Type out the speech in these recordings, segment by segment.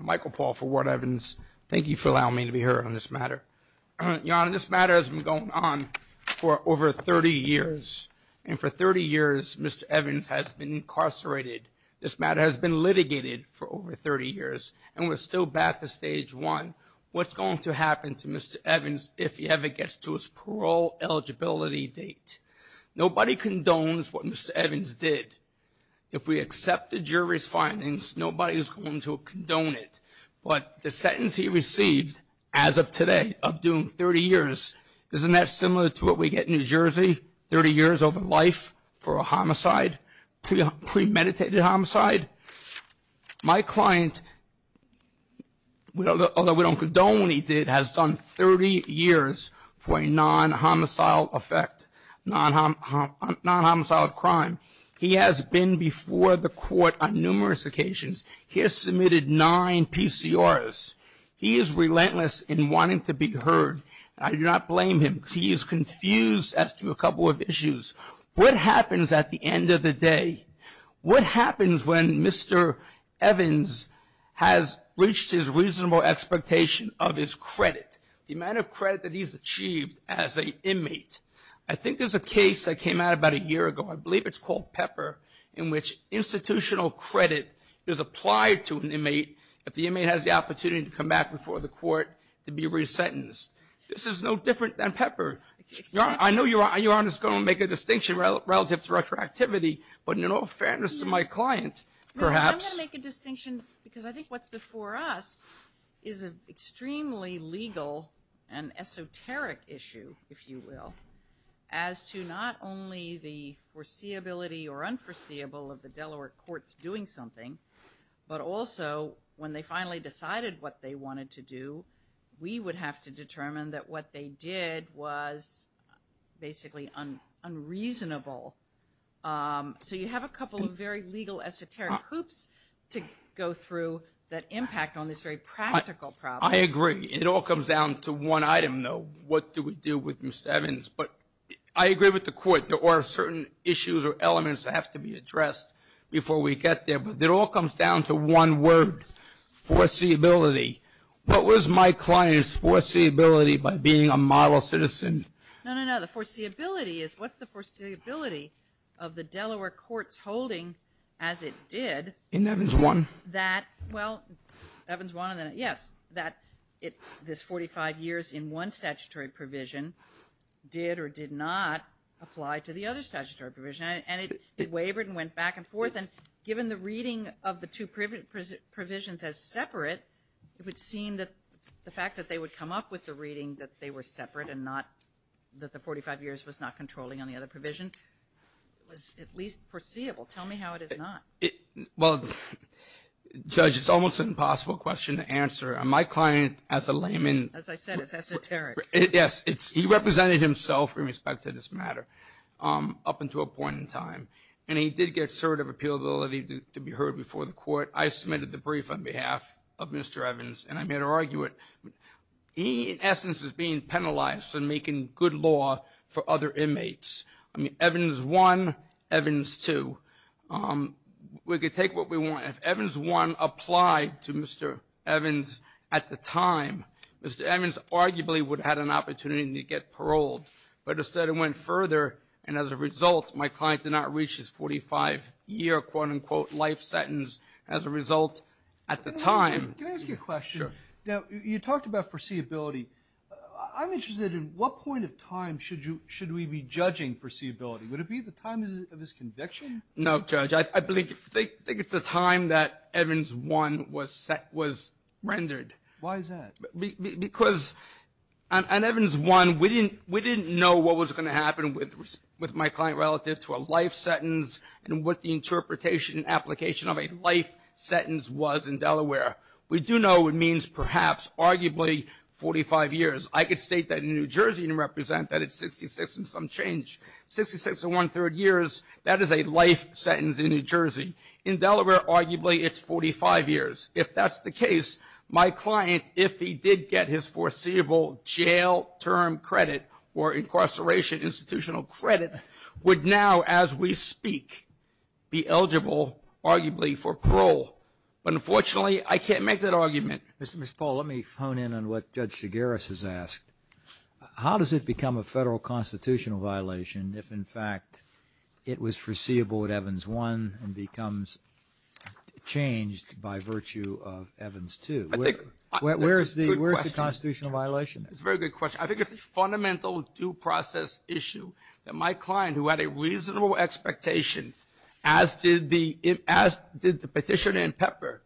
Michael Paul for Ward-Evans. Thank you for allowing me to be here on this matter. Your Honor, this matter has been going on for over 30 years. And for 30 years, Mr. Evans has been incarcerated. This matter has been litigated for over 30 years. And we're still back to Stage 1. What's going to happen to Mr. Evans if he ever gets to his parole eligibility date? Nobody condones what Mr. Evans did. If we accept the jury's findings, nobody is going to condone it. But the sentence he received, as of today, of doing 30 years, isn't that similar to what we get in New Jersey, 30 years over life for a homicide, premeditated homicide? My client, although we don't condone what he did, has done 30 years for a non-homicidal effect, non-homicidal crime. He has been before the court on numerous occasions. He has submitted nine PCRs. He is relentless in wanting to be heard. I do not blame him. He is confused as to a couple of issues. What happens at the end of the day? What happens when Mr. Evans has reached his reasonable expectation of his credit, the amount of credit that he's achieved as an inmate? I think there's a case that came out about a year ago. I believe it's called Pepper, in which institutional credit is applied to an inmate if the inmate has the opportunity to come back before the court to be resentenced. This is no different than Pepper. I know you aren't just going to make a distinction relative to retroactivity, but in all fairness to my client, perhaps. I'm going to make a distinction because I think what's before us is an extremely legal and esoteric issue, if you will, as to not only the foreseeability or unforeseeable of the Delaware courts doing something, but also when they finally decided what they wanted to do, we would have to determine that what they did was basically unreasonable. So you have a couple of very legal, esoteric hoops to go through that impact on this very practical problem. I agree. It all comes down to one item, though. What do we do with Mr. Evans? But I agree with the court. There are certain issues or elements that have to be addressed before we get there, but it all comes down to one word, foreseeability. What was my client's foreseeability by being a model citizen? No, no, no. The foreseeability is what's the foreseeability of the Delaware courts holding as it did. In Evans 1? That, well, Evans 1, yes, that this 45 years in one statutory provision did or did not apply to the other statutory provision. And it wavered and went back and forth. And given the reading of the two provisions as separate, it would seem that the fact that they would come up with the reading that they were separate and not that the 45 years was not controlling on the other provision was at least foreseeable. Tell me how it is not. Well, Judge, it's almost an impossible question to answer. My client as a layman. As I said, it's esoteric. Yes, he represented himself in respect to this matter up until a point in time. And he did get assertive appealability to be heard before the court. I submitted the brief on behalf of Mr. Evans, and I'm here to argue it. He, in essence, is being penalized for making good law for other inmates. I mean, Evans 1, Evans 2. We could take what we want. If Evans 1 applied to Mr. Evans at the time, Mr. Evans arguably would have had an opportunity to get paroled. But instead, it went further. And as a result, my client did not reach his 45-year, quote, unquote, life sentence as a result at the time. Can I ask you a question? Sure. Now, you talked about foreseeability. I'm interested in what point of time should we be judging foreseeability? Would it be the time of his conviction? No, Judge. I think it's the time that Evans 1 was rendered. Why is that? Because on Evans 1, we didn't know what was going to happen with my client relative to a life sentence and what the interpretation and application of a life sentence was in Delaware. We do know it means perhaps, arguably, 45 years. I could state that in New Jersey and represent that it's 66 and some change. Sixty-six and one-third years, that is a life sentence in New Jersey. In Delaware, arguably, it's 45 years. If that's the case, my client, if he did get his foreseeable jail term credit or incarceration institutional credit, would now, as we speak, be eligible, arguably, for parole. But unfortunately, I can't make that argument. Mr. Paul, let me hone in on what Judge Shigaris has asked. How does it become a federal constitutional violation if, in fact, it was foreseeable at Evans 1 and becomes changed by virtue of Evans 2? Where is the constitutional violation? That's a very good question. I think it's a fundamental due process issue that my client, who had a reasonable expectation, as did the petitioner in Pepper,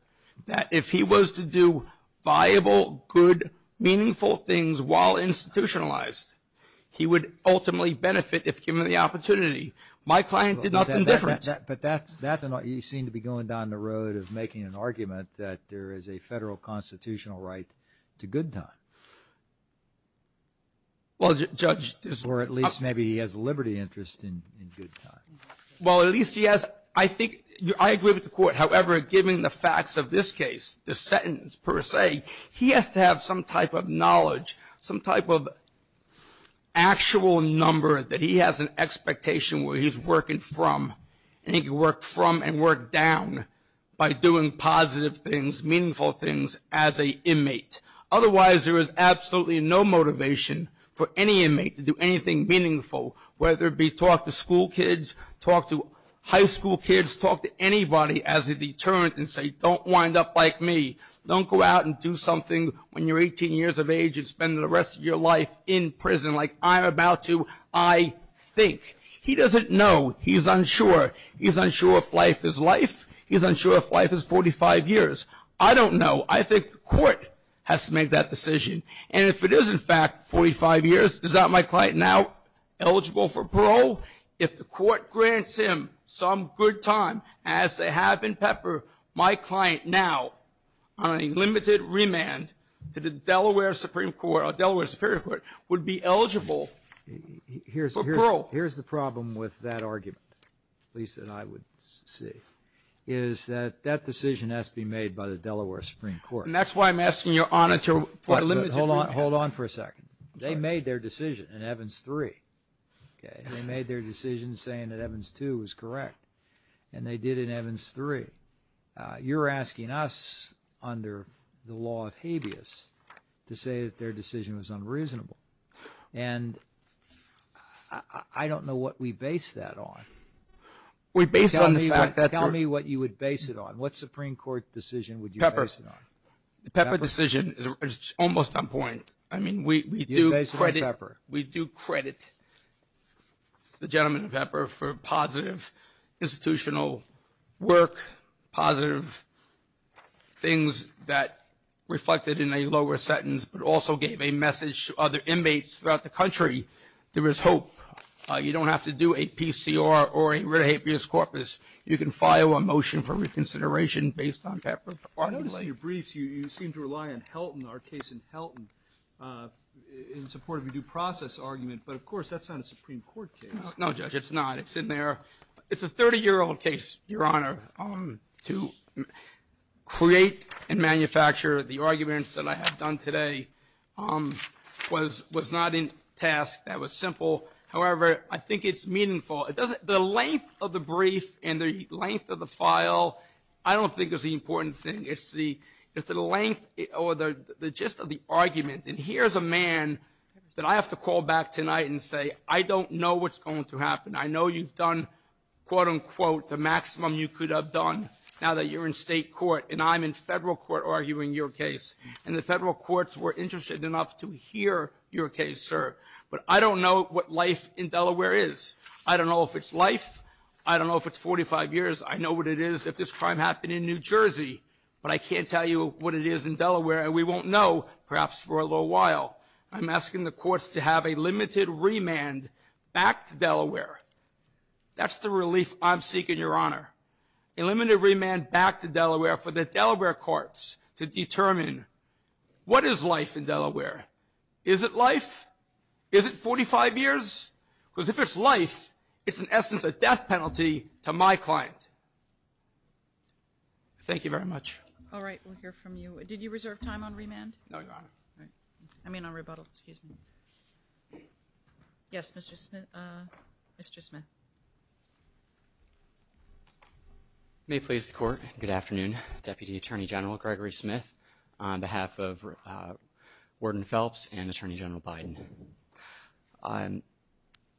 that if he was to do viable, good, meaningful things while institutionalized, he would ultimately benefit if given the opportunity. My client did nothing different. But you seem to be going down the road of making an argument that there is a federal constitutional right to good time. Or at least maybe he has a liberty interest in good time. Well, at least he has, I think, I agree with the court. However, given the facts of this case, the sentence per se, he has to have some type of knowledge, some type of actual number that he has an expectation where he's working from. And he can work from and work down by doing positive things, meaningful things as a inmate. Otherwise, there is absolutely no motivation for any inmate to do anything meaningful, whether it be talk to school kids, talk to high school kids, talk to anybody as a deterrent and say, don't wind up like me. Don't go out and do something when you're 18 years of age and spend the rest of your life in prison like I'm about to, I think. He doesn't know. He's unsure. He's unsure if life is life. He's unsure if life is 45 years. I don't know. I think the court has to make that decision. And if it is, in fact, 45 years, is that my client now eligible for parole? If the court grants him some good time, as they have in Pepper, my client now on a limited remand to the Delaware Supreme Court or Delaware Superior Court would be eligible for parole. Here's the problem with that argument, Lisa and I would say, is that that decision has to be made by the Delaware Supreme Court. And that's why I'm asking your honor to limit it. Hold on for a second. They made their decision in Evans 3. They made their decision saying that Evans 2 was correct. And they did in Evans 3. You're asking us under the law of habeas to say that their decision was unreasonable. And I don't know what we base that on. We base it on the fact that. Tell me what you would base it on. What Supreme Court decision would you base it on? Pepper. The Pepper decision is almost on point. I mean, we do credit. You base it on Pepper. We do credit the gentleman in Pepper for positive institutional work, positive things that reflected in a lower sentence, but also gave a message to other inmates throughout the country. There is hope. You don't have to do a PCR or a rare habeas corpus. You can file a motion for reconsideration based on Pepper. I noticed in your briefs you seem to rely on Helton, our case in Helton, in support of a due process argument. But, of course, that's not a Supreme Court case. No, Judge, it's not. It's in there. It's a 30-year-old case, Your Honor, to create and manufacture. The arguments that I have done today was not in task. That was simple. However, I think it's meaningful. The length of the brief and the length of the file I don't think is the important thing. It's the length or the gist of the argument. And here's a man that I have to call back tonight and say, I don't know what's going to happen. I know you've done, quote, unquote, the maximum you could have done now that you're in state court, and I'm in federal court arguing your case. And the federal courts were interested enough to hear your case, sir. But I don't know what life in Delaware is. I don't know if it's life. I don't know if it's 45 years. I know what it is if this crime happened in New Jersey, but I can't tell you what it is in Delaware, and we won't know perhaps for a little while. I'm asking the courts to have a limited remand back to Delaware. That's the relief I'm seeking, Your Honor, a limited remand back to Delaware for the Delaware courts to determine what is life in Delaware. Is it life? Is it 45 years? Because if it's life, it's in essence a death penalty to my client. Thank you very much. All right. We'll hear from you. Did you reserve time on remand? No, Your Honor. All right. I mean on rebuttal. Excuse me. Yes, Mr. Smith. May it please the Court, good afternoon. Deputy Attorney General Gregory Smith on behalf of Warden Phelps and Attorney General Biden.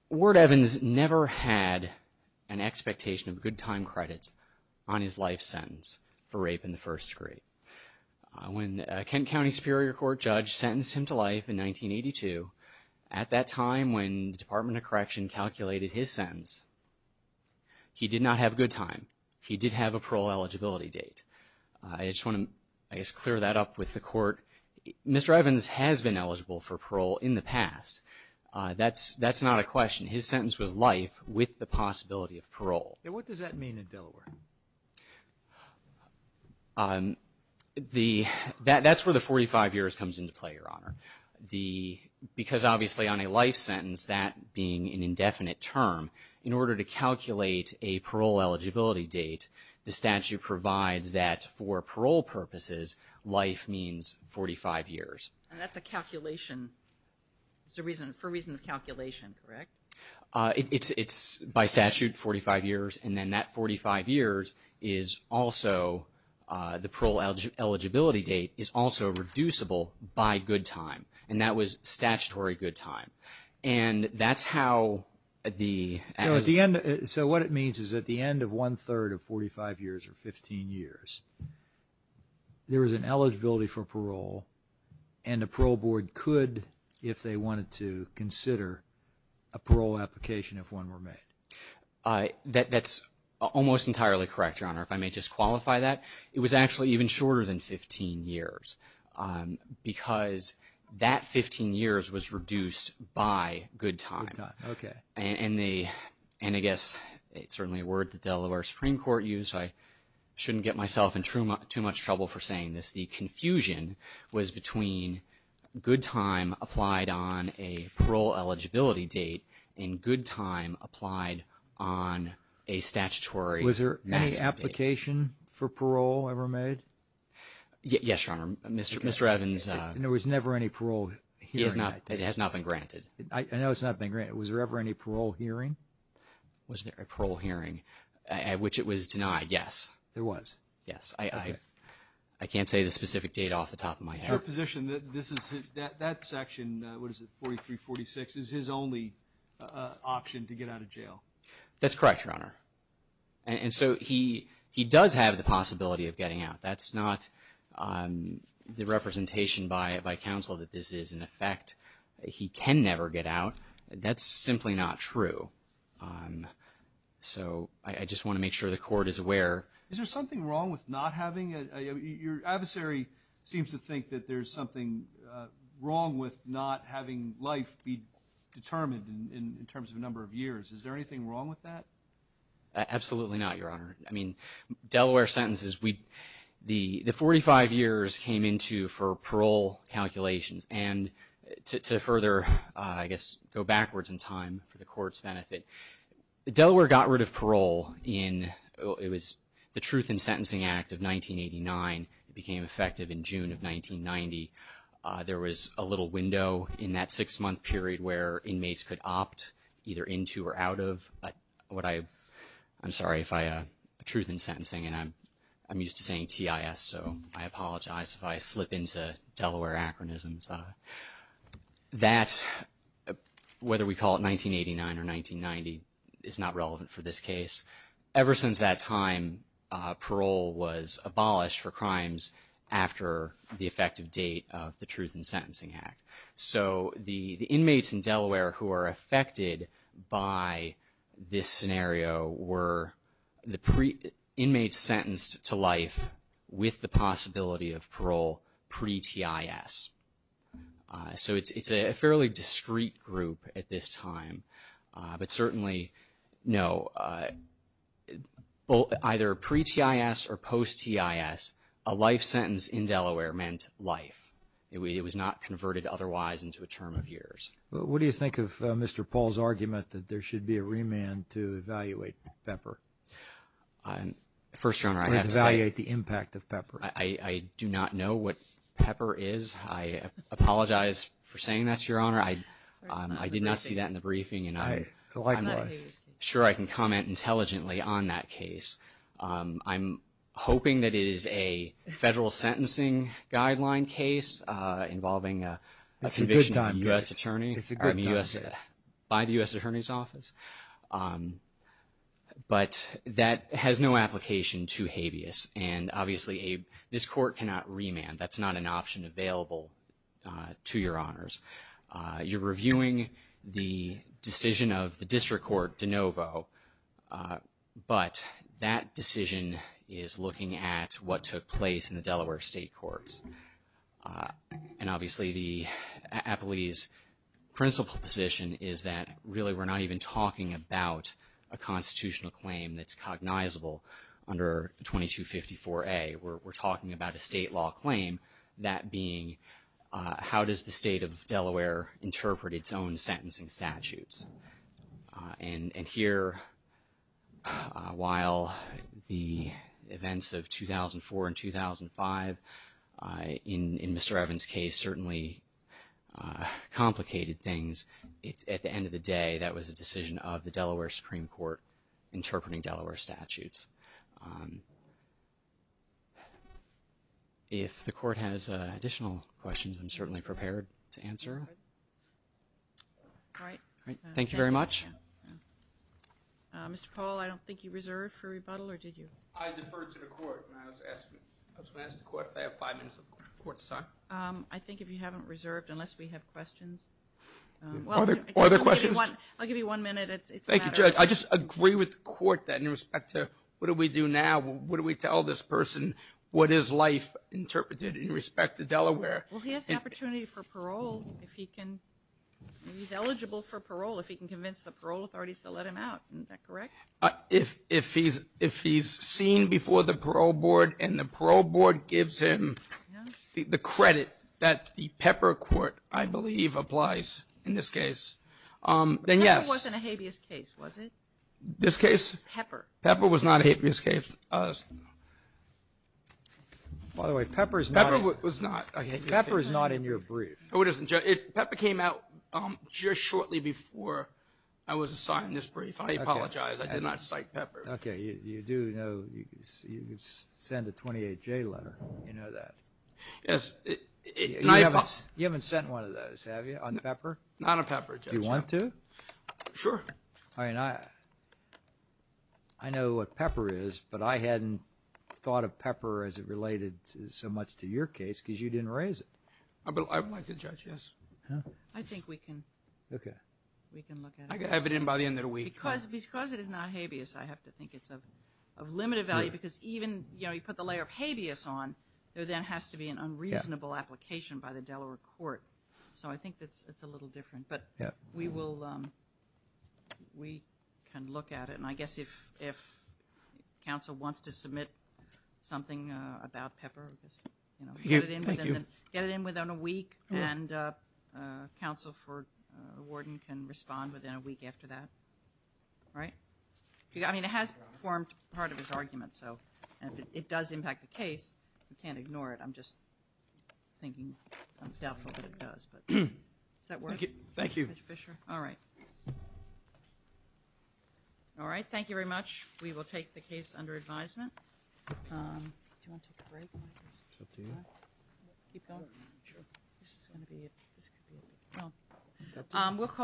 Ward Evans never had an expectation of good time credits on his life sentence for rape in the first degree. When Kent County Superior Court judge sentenced him to life in 1982, at that time when the Department of Correction calculated his sentence, he did not have good time. He did have a parole eligibility date. I just want to, I guess, clear that up with the Court. Mr. Evans has been eligible for parole in the past. That's not a question. His sentence was life with the possibility of parole. What does that mean in Delaware? That's where the 45 years comes into play, Your Honor. Because obviously on a life sentence, that being an indefinite term, in order to calculate a parole eligibility date, the statute provides that for parole purposes, life means 45 years. And that's a calculation. It's a reason, for a reason of calculation, correct? It's by statute 45 years, and then that 45 years is also, the parole eligibility date is also reducible by good time. And that was statutory good time. And that's how the. So what it means is at the end of one-third of 45 years or 15 years, there is an eligibility for parole, and a parole board could, if they wanted to, consider a parole application if one were made. That's almost entirely correct, Your Honor. If I may just qualify that, it was actually even shorter than 15 years because that 15 years was reduced by good time. Okay. And I guess it's certainly a word the Delaware Supreme Court used, so I shouldn't get myself in too much trouble for saying this. The confusion was between good time applied on a parole eligibility date and good time applied on a statutory maximum date. Was there any application for parole ever made? Yes, Your Honor. Mr. Evans. There was never any parole hearing. It has not been granted. I know it's not been granted. Was there ever any parole hearing? Was there a parole hearing at which it was denied? Yes. There was? Yes. Okay. I can't say the specific date off the top of my head. Your position, that section, what is it, 43-46, is his only option to get out of jail? That's correct, Your Honor. And so he does have the possibility of getting out. That's not the representation by counsel that this is in effect. He can never get out. That's simply not true. So I just want to make sure the court is aware. Is there something wrong with not having a – your adversary seems to think that there's something wrong with not having life be determined in terms of a number of years. Is there anything wrong with that? Absolutely not, Your Honor. I mean, Delaware sentences, the 45 years came into for parole calculations, and to further, I guess, go backwards in time for the court's benefit, Delaware got rid of parole in – it was the Truth in Sentencing Act of 1989. It became effective in June of 1990. There was a little window in that six-month period where inmates could opt either into or out of what I – I'm sorry, Truth in Sentencing, and I'm used to saying TIS, so I apologize if I slip into Delaware acronyms. That, whether we call it 1989 or 1990, is not relevant for this case. Ever since that time, parole was abolished for crimes after the effective date of the Truth in Sentencing Act. So the inmates in Delaware who are affected by this scenario were the inmates sentenced to life with the possibility of parole pre-TIS. So it's a fairly discrete group at this time, but certainly, no, either pre-TIS or post-TIS, a life sentence in Delaware meant life. It was not converted otherwise into a term of years. What do you think of Mr. Paul's argument that there should be a remand to evaluate Pepper? First, Your Honor, I have to say— Or evaluate the impact of Pepper. I do not know what Pepper is. I apologize for saying that, Your Honor. I did not see that in the briefing, and I'm sure I can comment intelligently on that case. I'm hoping that it is a federal sentencing guideline case involving a— It's a good process. —by the U.S. Attorney's Office. But that has no application to habeas, and obviously, this court cannot remand. That's not an option available to Your Honors. You're reviewing the decision of the district court, De Novo, but that decision is looking at what took place in the Delaware state courts. And obviously, the appellee's principal position is that, really, we're not even talking about a constitutional claim that's cognizable under 2254A. We're talking about a state law claim, that being, how does the state of Delaware interpret its own sentencing statutes? And here, while the events of 2004 and 2005 in Mr. Evans' case certainly complicated things, at the end of the day, that was a decision of the Delaware Supreme Court interpreting Delaware statutes. If the court has additional questions, I'm certainly prepared to answer them. All right. Thank you very much. Mr. Paul, I don't think you reserved for rebuttal, or did you? I deferred to the court, and I was going to ask the court if I have five minutes of court time. I think if you haven't reserved, unless we have questions. Are there questions? I'll give you one minute. Thank you, Judge. I just agree with the court, then, in respect to what do we do now? What do we tell this person? What is life interpreted in respect to Delaware? Well, he has the opportunity for parole if he can. He's eligible for parole if he can convince the parole authorities to let him out. Isn't that correct? If he's seen before the parole board and the parole board gives him the credit that the Pepper Court, I believe, applies in this case, then yes. Pepper wasn't a habeas case, was it? This case? Pepper. Pepper was not a habeas case. By the way, Pepper is not in your brief. Pepper came out just shortly before I was assigned this brief. I apologize. I did not cite Pepper. Okay. You do know you could send a 28-J letter. You know that. Yes. You haven't sent one of those, have you, on Pepper? Not on Pepper, Judge. Do you want to? Sure. I know what Pepper is, but I hadn't thought of Pepper as it related so much to your case because you didn't raise it. I'd like to judge, yes. I think we can look at it. I can have it in by the end of the week. Because it is not habeas, I have to think it's of limited value because even, you know, you put the layer of habeas on, there then has to be an unreasonable application by the Delaware court. So I think it's a little different. But we will, we can look at it. And I guess if counsel wants to submit something about Pepper, you know, get it in within a week, and counsel for the warden can respond within a week after that. All right? I mean, it has formed part of his argument, so if it does impact the case, we can't ignore it. I'm just thinking I'm doubtful that it does. Does that work? Thank you. All right. All right, thank you very much. We will take the case under advisement. Do you want to take a break? It's up to you. Keep going? Sure. This is going to be it. We'll call our.